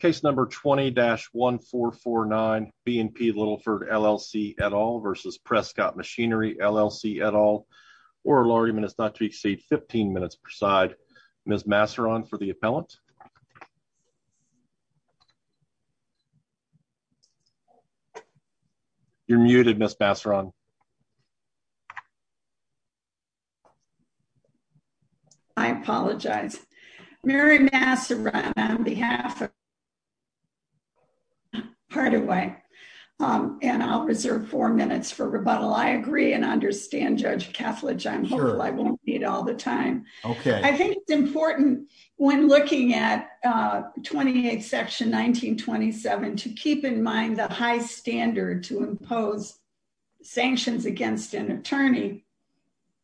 case number 20-1449 B and P Littleford LLC at all versus Prescott Machinery LLC at all. Oral argument is not to exceed 15 minutes per side. Ms. Masseron for the appellant. You're muted, Miss Masseron. I apologize. Mary Masseron on behalf of Hardaway and I'll reserve four minutes for rebuttal. I agree and understand Judge Kethledge. I'm sure I won't need all the time. I think it's important when looking at 28 section 1927 to keep in mind the high standard to impose sanctions against an attorney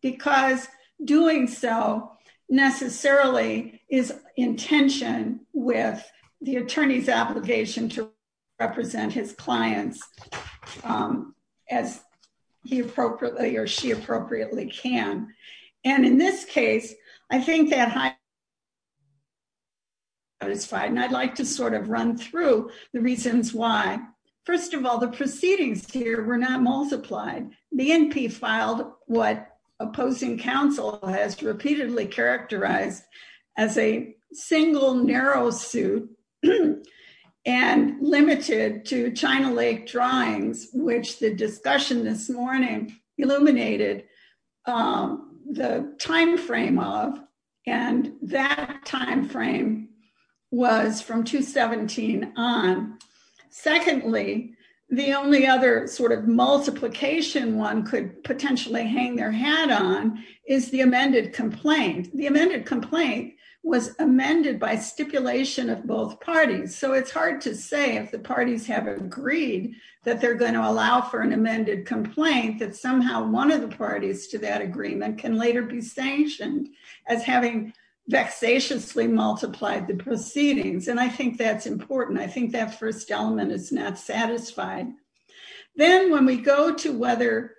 because doing so necessarily is in tension with the attorney's obligation to represent his client. I'd like to sort of run through the reasons why. First of all, the proceedings here were not multiplied. The N.P. filed what opposing counsel has repeatedly characterized as a single narrow suit and limited to China Lake drawings, which the discussion this morning illuminated the time frame of and that time frame was from 217 on. Secondly, the only other sort of multiplication one could potentially hang their hat on is the amended complaint. The amended complaint was amended by stipulation of both parties. So it's hard to say if the parties have agreed that they're going to allow for an amended complaint, that somehow one of the parties to that agreement can later be sanctioned as having vexatiously multiplied the proceedings. And I think that's important. I think that first element is not satisfied. Then when we go to whether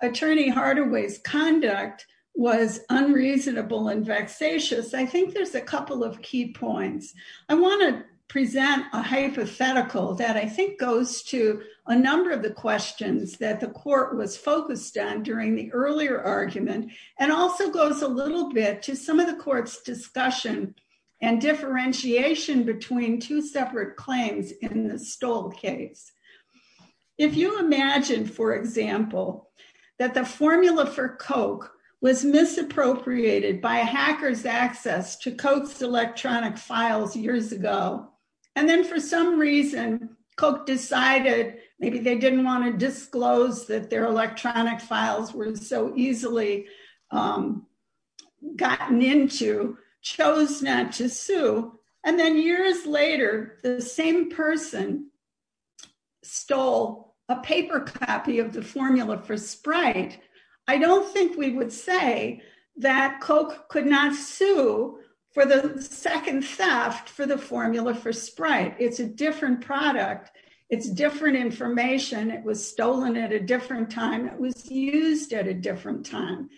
attorney Hardaway's conduct was unreasonable and vexatious, I think there's a couple of key points. I want to present a hypothetical that I think goes to a number of the questions that the court was focused on during the earlier argument and also goes a little bit to some of the court's discussion and differentiation between two separate claims in the Stoll case. If you imagine, for example, that the formula for Coke was misappropriated by hackers access to Coke's electronic files years ago, and then for some reason Coke decided maybe they didn't want to disclose that their electronic files were so easily gotten into, chose not to sue. And then years later, the same person stole a paper copy of the formula for Sprite. I don't think we would say that Coke could not sue for the second theft for the formula for Sprite. It's a different product. It's different information. It was stolen at a different time. It was used at a different time.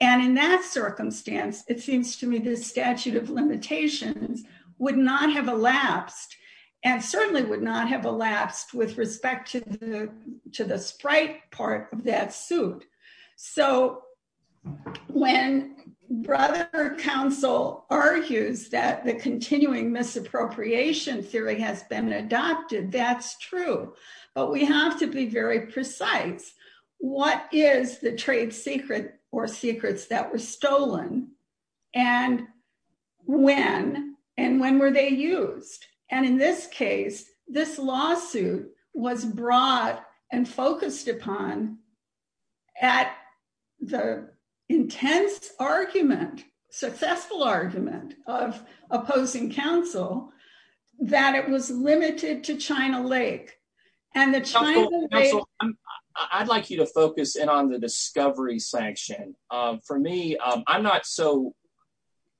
And in that circumstance, it seems to me this statute of limitations would not have elapsed and certainly would not have elapsed with respect to the Sprite part of that suit. So when brother counsel argues that the continuing misappropriation theory has been adopted, that's true. But we have to be very precise. What is the trade secret or secrets that were stolen? And when? And when were they used? And in this case, this lawsuit was brought and focused upon at the intense argument, successful argument of opposing counsel that it was limited to China Lake and the China Lake. I'd like you to focus in on the discovery section. For me, I'm not so,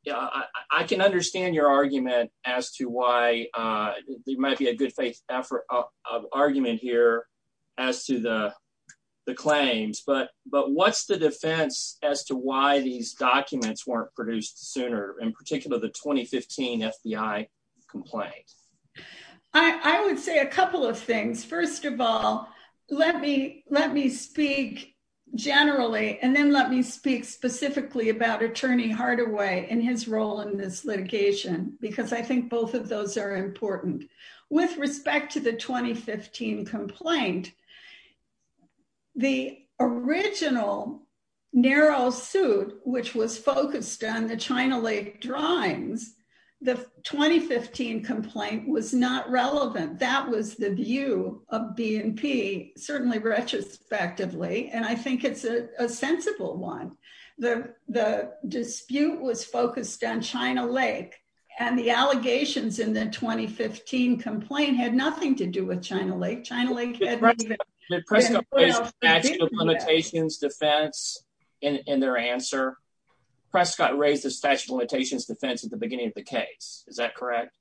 yeah, I can understand your argument as to why there might be a good faith effort of argument here as to the claims. But what's the defense as to why these documents weren't produced sooner, in particular, the 2015 FBI complaint? I would say a couple of things. First of all, let me speak generally and then let me speak specifically about Attorney Hardaway and his of those are important. With respect to the 2015 complaint, the original narrow suit, which was focused on the China Lake drawings, the 2015 complaint was not relevant. That was the view of BNP, certainly retrospectively. And I think it's a sensible one. The dispute was focused on in the 2015 complaint had nothing to do with China Lake. China Lake had limitations defense in their answer. Prescott raised the statute of limitations defense at the beginning of the case. Is that correct?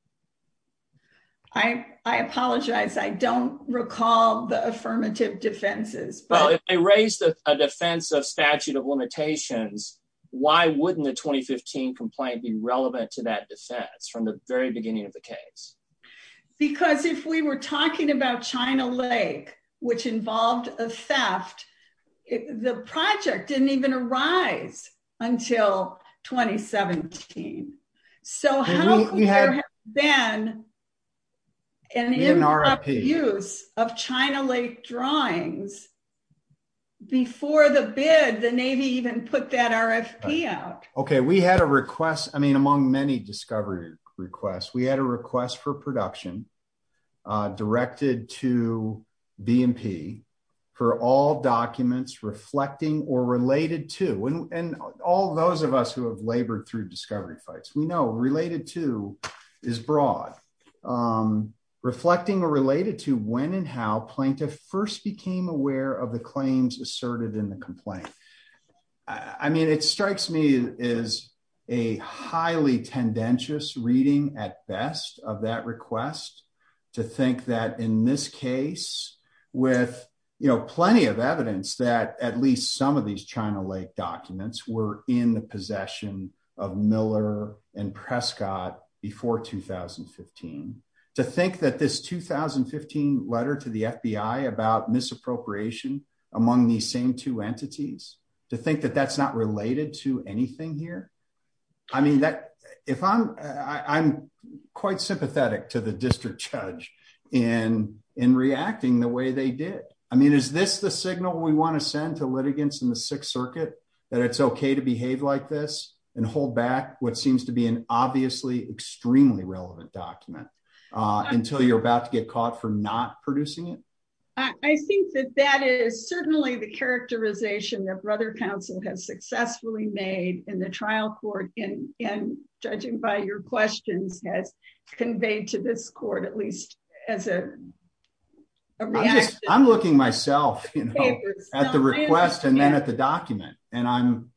I apologize. I don't recall the affirmative defenses. But I raised a defense of statute of limitations. Why wouldn't the 2015 complaint be relevant to that defense from the very beginning of the case? Because if we were talking about China Lake, which involved a theft, the project didn't even arise until 2017. So how we had been in our use of China Lake drawings. Before the bid, the Navy even put that RFP out. Okay, we had a request. I mean, among many discovery requests, we had a request for production directed to BNP for all documents reflecting or related to and all those of us who have labored through discovery fights we know related to is broad. Reflecting or related to when and how plaintiff first became aware of the claims asserted in the complaint. I mean, it strikes me a highly tendentious reading at best of that request to think that in this case, with plenty of evidence that at least some of these China Lake documents were in the possession of Miller and Prescott before 2015. To think that this 2015 letter to the FBI about misappropriation among these same two entities, to think that that's not related to anything here. I mean, that if I'm, I'm quite sympathetic to the district judge and in reacting the way they did. I mean, is this the signal we want to send to litigants in the Sixth Circuit that it's okay to behave like this and hold back what seems to be an obviously extremely relevant document until you're about to caught for not producing it? I think that that is certainly the characterization that Brother Council has successfully made in the trial court in judging by your questions has conveyed to this court at least as a reaction. I'm looking myself at the request and then at the document and I'm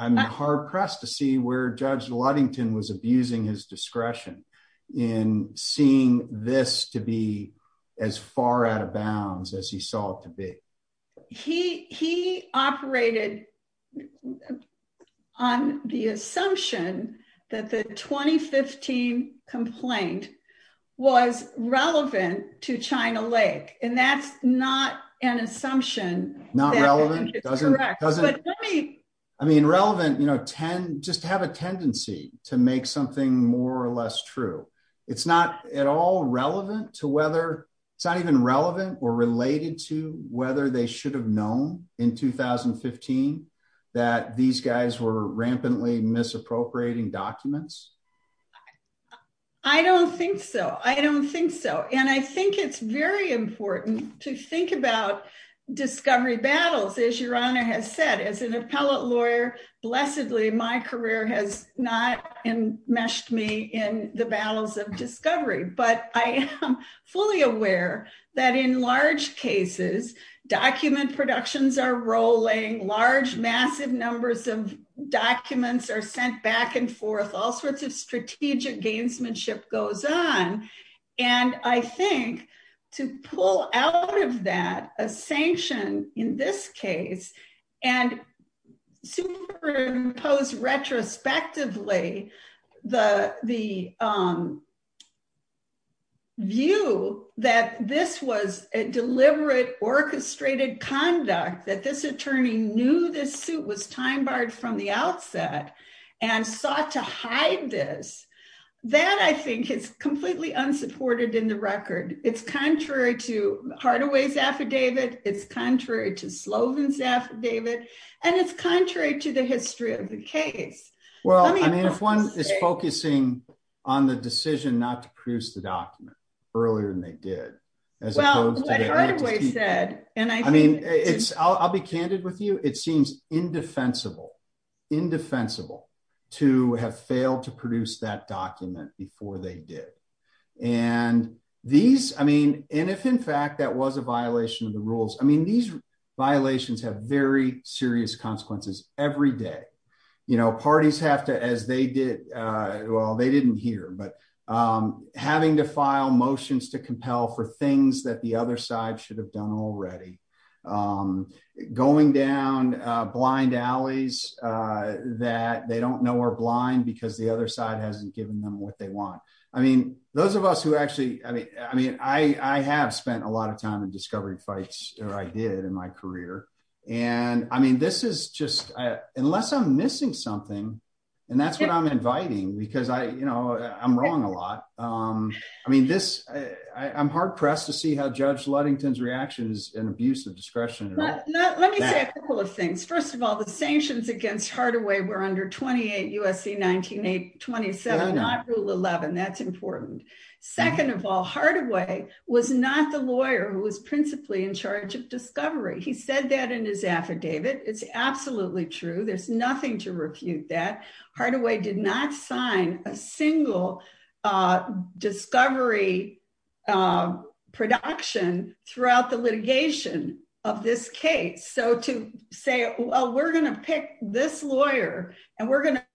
hard pressed to see where Judge Ludington was abusing his discretion in seeing this to be as far out of bounds as he saw it to be. He, he operated on the assumption that the 2015 complaint was relevant to China Lake. And that's not an assumption. Not relevant. Correct. I mean, relevant, you know, 10, just have a tendency to make something more or less true. It's not at all relevant to whether it's not even relevant or related to whether they should have known in 2015 that these guys were rampantly misappropriating documents. I don't think so. I don't think so. And I think it's very important to think about discovery battles, as your Honor has said, as an appellate lawyer, blessedly, my career has not enmeshed me in the battles of discovery, but I am fully aware that in large cases, document productions are rolling, large, massive numbers of documents are sent back and forth, all sorts of strategic gamesmanship goes on. And I think to pull out of that a sanction in this case, and superimpose retrospectively, the, the view that this was a deliberate orchestrated conduct that this attorney knew this suit was time barred from the outset and sought to hide this, that I think is completely unsupported in the record. It's contrary to Hardaway's affidavit, it's contrary to Slovin's affidavit, and it's contrary to the history of the case. Well, I mean, if one is focusing on the decision not to produce the document earlier than they did, as opposed to what Hardaway said, and I mean, it's I'll be candid with you, it seems indefensible, indefensible, to have failed to produce that document before they did. And these, I mean, and if in fact, that was a violation of the rules, I mean, these violations have very serious consequences every day. You know, parties have to as they did, well, they didn't hear but having to file motions to compel for things that the other side should have done already. Going down blind alleys that they don't know are blind, because the other side hasn't given them what they want. I mean, those of us who actually I mean, I mean, I have spent a lot of time in discovery fights, or I did in my career. And I mean, this is just unless I'm missing something. And that's what I'm inviting, because I you know, I'm wrong a lot. I mean, this, I'm hard pressed to see how Judge Ludington's reaction is an abuse of discretion. Let me say a couple of things. First of all, the sanctions against Hardaway were under 28 USC 1927, not rule 11. That's important. Second of all, Hardaway was not the lawyer who was principally in charge of discovery. He said that in his affidavit. It's absolutely true. There's nothing to refute that Hardaway did not sign a single discovery production throughout the litigation of this case. So to say, well, we're going to pick this lawyer, and we're going to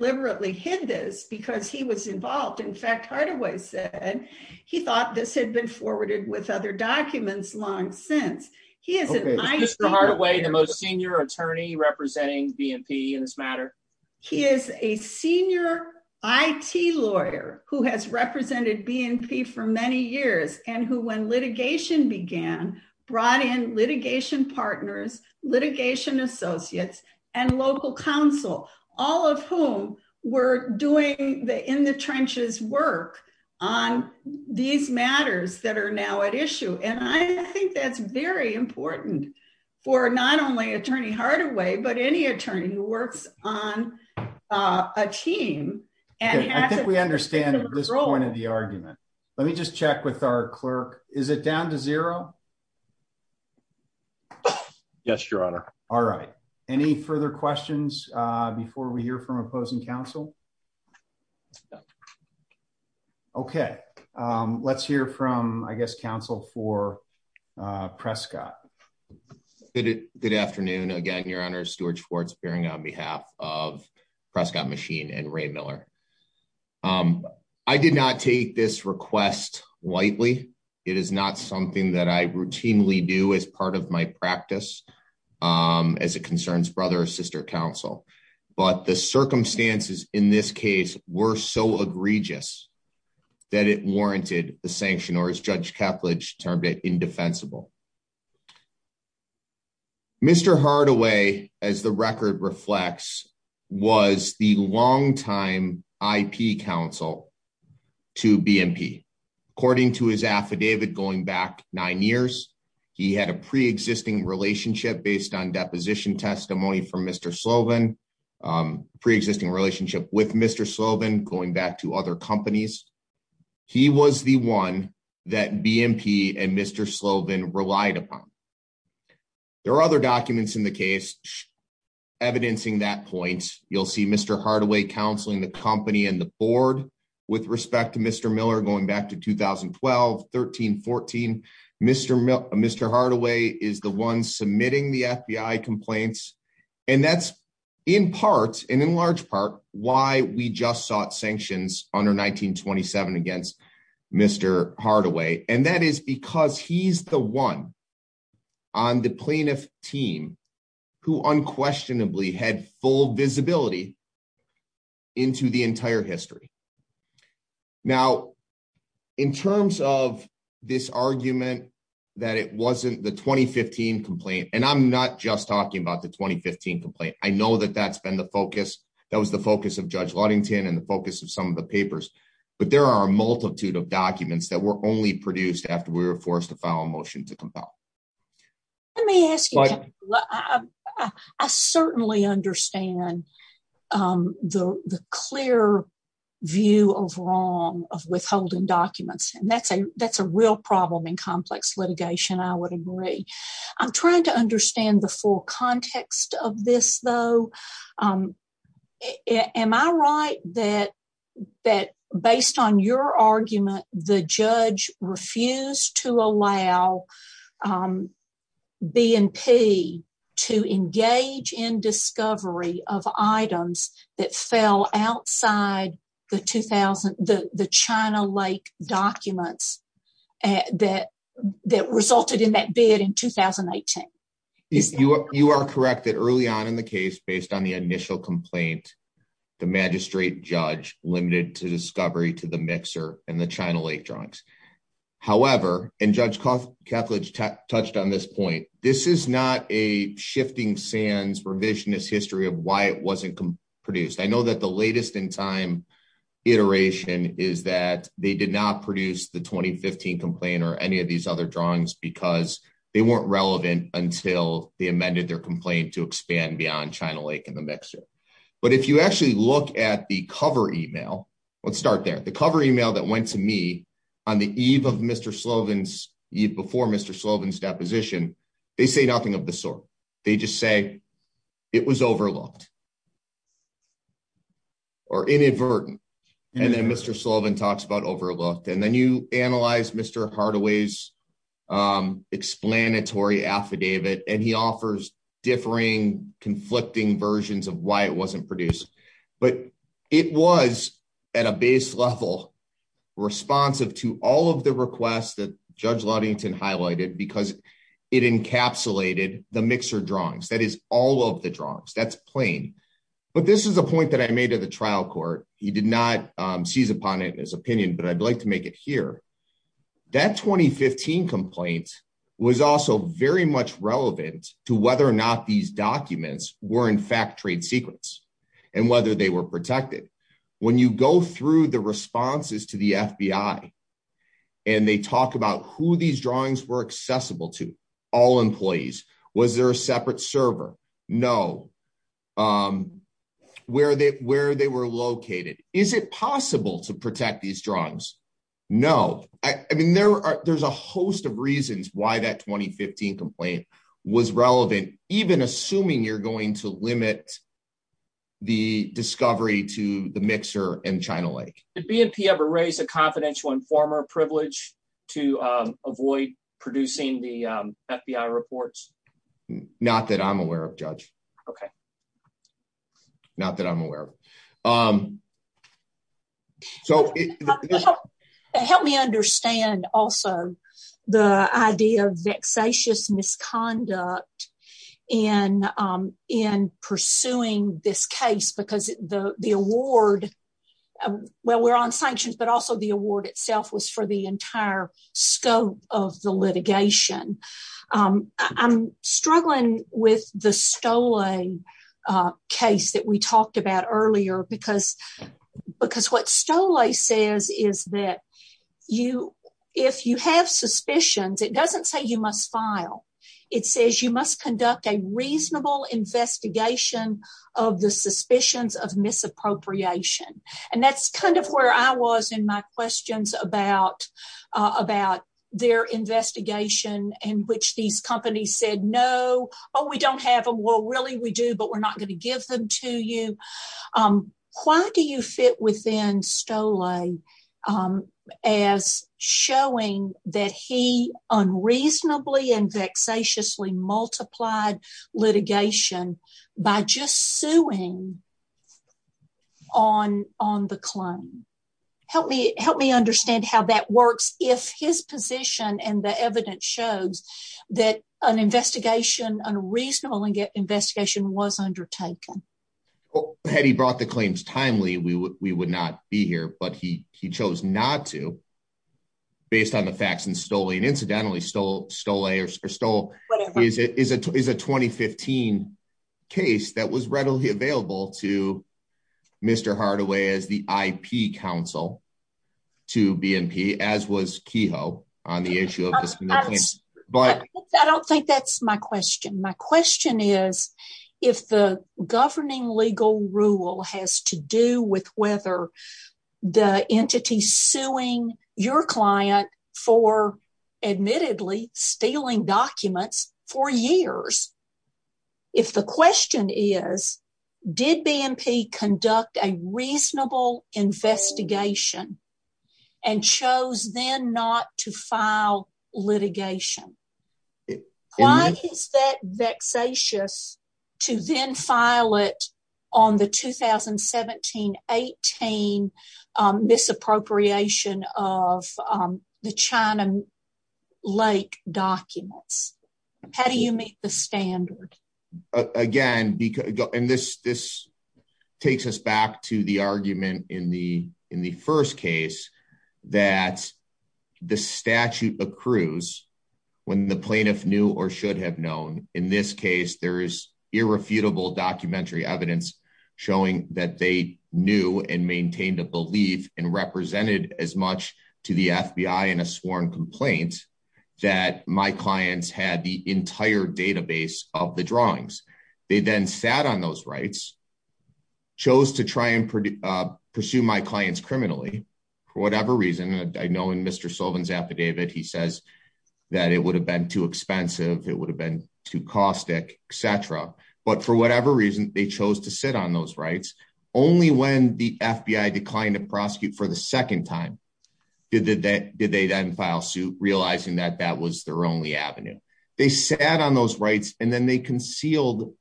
liberally hit this because he was involved. In fact, Hardaway said, he thought this had been forwarded with other documents long since he is the most senior attorney representing BNP in this matter. He is a senior it lawyer who has represented BNP for many years and who when partners, litigation associates, and local counsel, all of whom were doing the in the trenches work on these matters that are now at issue. And I think that's very important for not only Attorney Hardaway, but any attorney who works on a team. And I think we understand this point Let me just check with our clerk. Is it down to zero? Yes, your honor. All right. Any further questions before we hear from opposing counsel? Okay. Let's hear from, I guess, counsel for Prescott. Good afternoon. Again, your honor, Stuart Schwartz appearing on behalf of Prescott Machine and Ray Miller. I did not take this request lightly. It is not something that I routinely do as part of my practice, as it concerns brother or sister counsel. But the circumstances in this case were so egregious that it warranted the sanction or as Judge long-time IP counsel to BNP. According to his affidavit going back nine years, he had a pre-existing relationship based on deposition testimony from Mr. Slovin, pre-existing relationship with Mr. Slovin going back to other companies. He was the one that BNP and Mr. Slovin relied upon. There are other documents in the case evidencing that point. You'll see Mr. Hardaway counseling the company and the board with respect to Mr. Miller going back to 2012, 13, 14. Mr. Hardaway is the one submitting the FBI complaints. And that's in part and in large part why we just sought sanctions under 1927 against Mr. Hardaway. And that is because he's the one on the plaintiff team who unquestionably had full visibility into the entire history. Now, in terms of this argument that it wasn't the 2015 complaint, and I'm not just talking about the 2015 complaint. I know that that's been the focus. That was the focus of Judge Ludington and the focus of some of the papers, but there are a multitude of documents that were only produced after we were forced to file a motion to compel. Let me ask you, I certainly understand the clear view of wrong of withholding documents. And that's a real problem in complex litigation. I would agree. I'm trying to understand the full context of this, though. Am I right that that based on your argument, the judge refused to allow BNP to engage in discovery of items that fell outside the 2000 the China Lake documents and that resulted in that bid in 2018? You are correct that early on in the case, based on the initial complaint, the magistrate judge limited to discovery to the mixer and the China Lake drawings. However, and Judge Kethledge touched on this point, this is not a shifting sands revisionist history of why it wasn't produced. I know that the latest in time iteration is that they did not produce the 2015 complaint or any of these other drawings because they weren't relevant until they amended their complaint to expand beyond China Lake in the mixer. But if you actually look at the cover email, let's start there. The cover email that went to me on the eve of Mr. Slovin's before Mr. Slovin's deposition, they say nothing of the sort. They just say it was overlooked. Or inadvertent. And then Mr. Slovin talks about overlooked. And then you analyze Mr. Hardaway's explanatory affidavit and he offers differing, conflicting versions of why it wasn't produced. But it was at a base level responsive to all of the requests that Judge Ludington highlighted because it encapsulated the mixer drawings. That is all of the drawings. That's plain. But this is a point that I made at the trial court. He did not seize upon it in his opinion, but I'd like to make it here. That 2015 complaint was also very much relevant to whether or not these documents were in fact trade secrets and whether they were protected. When you go through the responses to the FBI and they talk about who these drawings were accessible to, all employees, was there a separate server? No. Where they were located. Is it possible to protect these drawings? No. I mean, there's a host of reasons why that 2015 complaint was relevant, even assuming you're the mixer in China Lake. Did BNP ever raise a confidential informer privilege to avoid producing the FBI reports? Not that I'm aware of, Judge. Okay. Not that I'm aware of. Help me understand also the idea of vexatious misconduct in pursuing this case because the award, well, we're on sanctions, but also the award itself was for the entire scope of the litigation. I'm struggling with the Stolle case that we talked about earlier because what Stolle says is that if you have suspicions, it doesn't say you must file. It says you must conduct a reasonable investigation of the suspicions of misappropriation. And that's kind of where I was in my questions about their investigation in which these companies said, no, we don't have them. Well, really we do, but we're not going to give them to you. Why do you fit within Stolle as showing that he unreasonably and vexatiously multiplied litigation by just suing on the claim? Help me understand how that works if his position and the evidence shows that an investigation, unreasonable investigation was undertaken. Had he brought the claims timely, we would not be here, but he chose not to based on the facts in Stolle. And incidentally, Stolle is a 2015 case that was readily available to Mr. Hardaway as the IP counsel to BNP, as was Kehoe on the issue of this. I don't think that's my question. My question is, if the governing legal rule has to do with whether the entity suing your client for admittedly stealing documents for years, if the question is, did BNP conduct a reasonable investigation and chose then not to file litigation, why is that vexatious to then file it on the 2017-18 misappropriation of the China Lake documents? How do you meet the standard? Again, and this takes us back to the argument in the first case that the statute accrues when the plaintiff knew or should have known. In this case, there is irrefutable documentary evidence showing that they knew and maintained a belief and represented as much to the FBI in a sworn complaint that my clients had the entire database of the drawings. They then sat on those rights, chose to try and pursue my clients criminally, for whatever reason. I know in Mr. Sullivan's affidavit, he says that it would have been too expensive, it would have been too caustic, et cetera. But for whatever reason, they chose to sit on those rights. Only when the FBI declined to prosecute for the second time did they then realize that that was their only avenue. They sat on those rights and then they concealed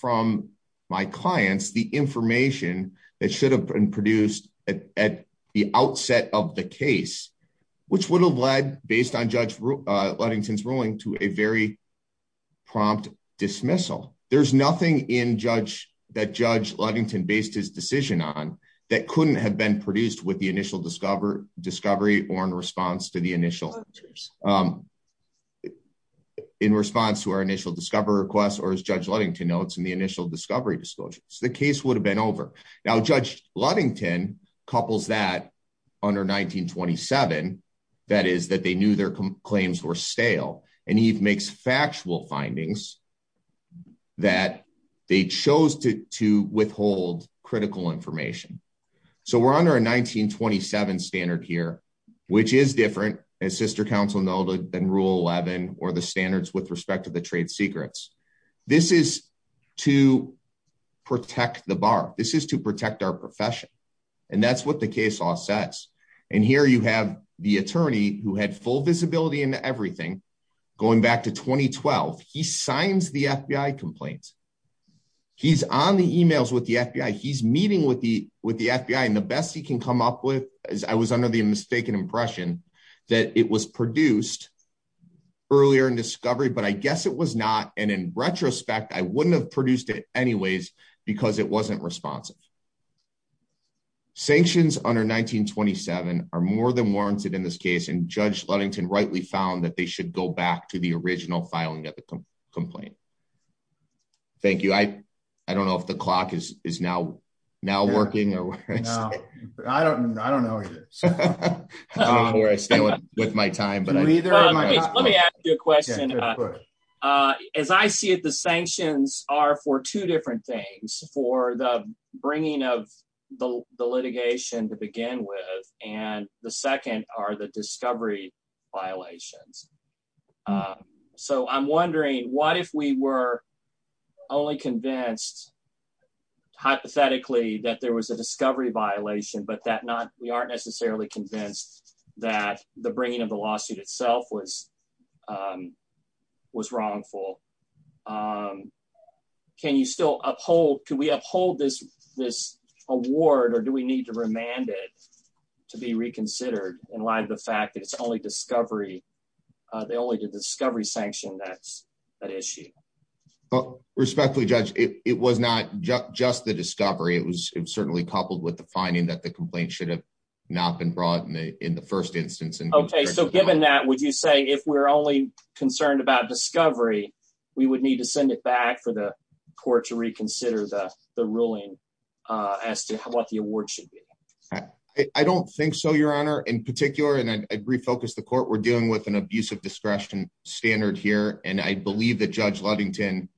from my clients the information that should have been produced at the outset of the case, which would have led, based on Judge Ludington's ruling, to a very prompt dismissal. There's nothing that Judge Ludington based his decision on that couldn't have been produced with the initial discovery or in response to our initial discovery request, or as Judge Ludington notes, in the initial discovery disclosures. The case would have been over. Now, Judge Ludington couples that under 1927, that is, that they knew their claims were stale, and he makes factual findings that they chose to withhold critical information. So we're under a 1927 standard here, which is different, as sister counsel noted, than Rule 11 or the standards with respect to the trade secrets. This is to protect the bar. This is to protect our profession. And that's what the case law says. And here you have the attorney who had full visibility into everything, going back to 2012. He signs the FBI complaints. He's on the emails with the FBI. He's meeting with the FBI. And the best he can come up with, as I was under the mistaken impression, that it was produced earlier in discovery, but I guess it was not. And in retrospect, I wouldn't have produced it anyways because it wasn't responsive. Sanctions under 1927 are more than warranted in this case. And Judge Ludington rightly found that they should go back to the original filing of the complaint. Thank you. I don't know if the clock is now working. I don't know. I don't know where I stand with my time. But let me ask you a question. As I see it, the sanctions are for two different things for the bringing of the litigation to begin with. And the second are the discovery violations. So I'm wondering, what if we were only convinced, hypothetically, that there was a discovery violation, but that we aren't necessarily convinced that the bringing of the lawsuit itself was wrongful? Can you still uphold? Can we uphold this award? Or do we need to remand it to be reconsidered in light of the fact that it's only discovery? They only did the discovery sanction that issue. Well, respectfully, Judge, it was not just the discovery. It was certainly coupled with the finding that the complaint should have not been brought in the first instance. Okay. So given that, would you say if we're only concerned about discovery, we would need to send it back for the court to reconsider the ruling as to what the award should be? I don't think so, Your Honor. In particular, and I'd refocus the court, we're dealing with an abuse of discretion standard here. And I believe that Judge Ludington,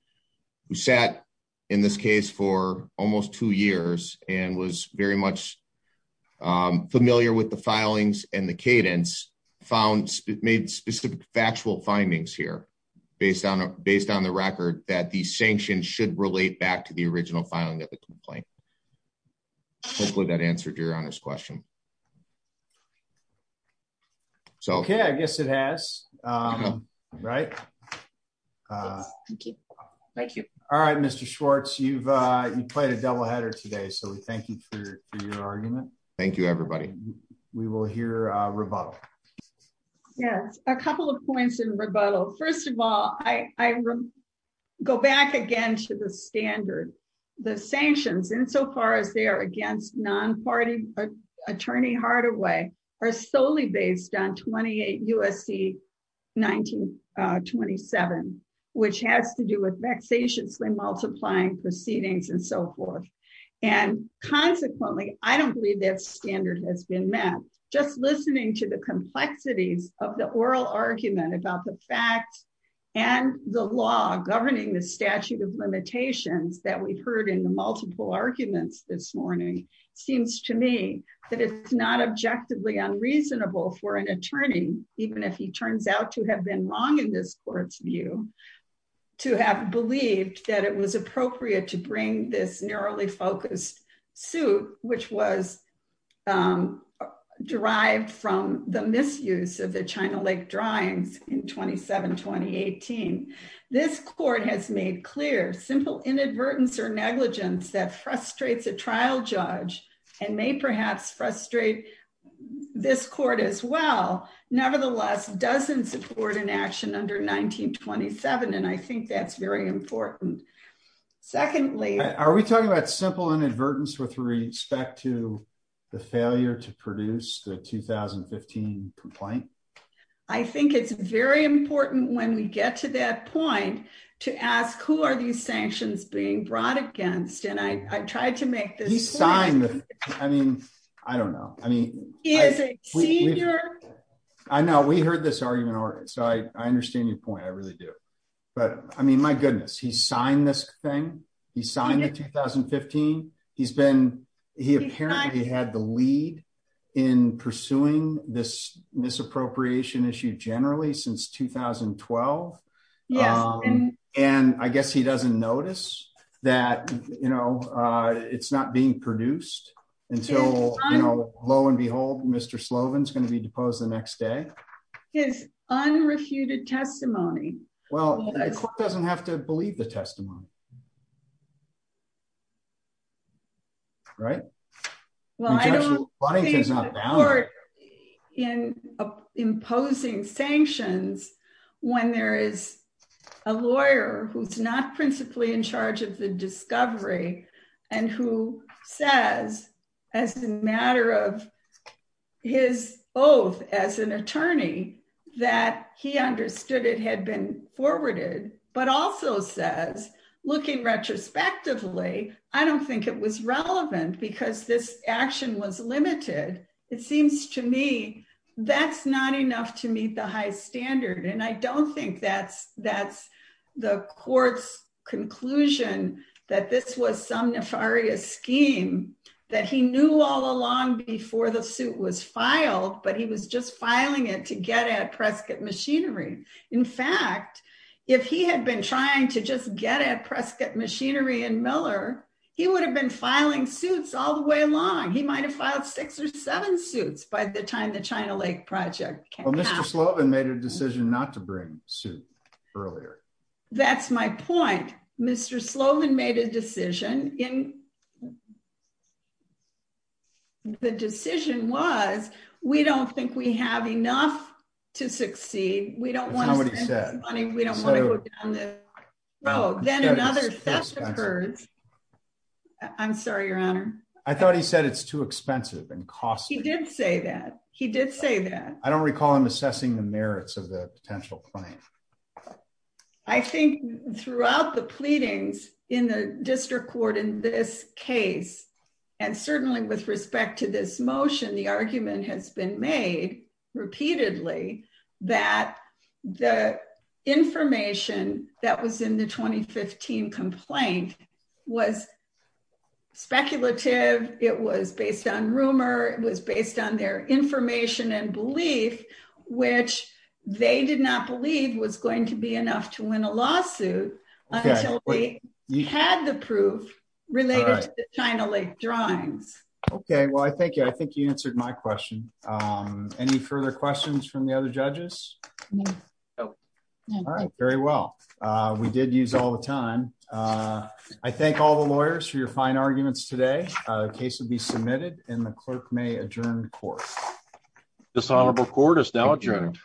who sat in this case for almost two years and was very much familiar with the filings and the cadence, made specific factual findings here based on the record that the sanctions should relate back to the original filing of the complaint. Hopefully, that answered Your Honor's question. Okay. I guess it has, right? Yes. Thank you. Thank you. All right, Mr. Schwartz, you've played a doubleheader today, so we thank you for your argument. Thank you, everybody. We will hear a rebuttal. Yes. A couple of points in rebuttal. First of all, I go back again to the standard. The sanctions, insofar as they are against non-party attorney Hardaway, are solely based on 28 U.S.C. 1927, which has to do with vexatiously multiplying proceedings and so forth. And consequently, I don't believe that standard has been met. Just listening to the complexities of the oral argument about the facts and the law governing the statute of limitations that we've heard in the multiple arguments this morning, seems to me that it's not objectively unreasonable for an attorney, even if he turns out to have been wrong in this court's view, to have believed that it was appropriate to bring this narrowly focused suit, which was derived from the misuse of the China Lake drawings in 27-2018. This court has made clear simple inadvertence or negligence that frustrates a trial judge and may perhaps frustrate this court as well, nevertheless doesn't support an action under 1927. And I think that's very important. Secondly, are we talking about simple inadvertence with respect to the failure to produce the 2015 complaint? I think it's very important when we get to that point to ask who are these sanctions being brought against? And I tried to make this sign. I mean, I don't know. I think I know we heard this argument already. So I understand your point. I really do. But I mean, my goodness, he signed this thing. He signed in 2015. He's been he apparently had the lead in pursuing this misappropriation issue generally since 2012. And I guess he doesn't notice that, you know, it's not being produced until, you know, lo and behold, Mr. Slovin is going to be deposed the next day. His unrefuted testimony. Well, it doesn't have to believe the testimony. Right. Well, I don't think the court in imposing sanctions, when there is a lawyer who's not principally in charge of the discovery, and who says, as a matter of his oath as an attorney, that he understood it had been forwarded, but also says, looking retrospectively, I don't think it was relevant, because this action was limited. It seems to me, that's not enough to meet the high standard. And I don't think that's, that's the court's conclusion, that this was some nefarious scheme, that he knew all along before the suit was filed, but he was just filing it to get at Prescott machinery. In fact, if he had been trying to just get at Prescott machinery and Miller, he would have been filing suits all the way along, he might have filed six or seven suits by the time the China Lake project. Well, Mr. Slovin made a decision not to bring suit earlier. That's my point. Mr. Slovin made a decision in the decision was, we don't think we have enough to succeed. We don't want to go down the road. I'm sorry, Your Honor, I thought he said it's too expensive and cost. He did say that he did say that I don't recall him assessing the merits of the potential claim. I think throughout the pleadings in the district court in this case, and certainly with respect to this motion, the argument has been made repeatedly, that the information that was in the 2015 complaint was speculative. It was based on rumor, it was based on their information and belief, which they did not believe was going to be enough to win a lawsuit. We had the proof related to China Lake drawings. Okay, well, I think I think you answered my question. Any further questions from the other judges? All right, very well. We did use all the time. I thank all the lawyers for your fine arguments today. The case will be submitted and the clerk may adjourn the court. This honorable court is now adjourned.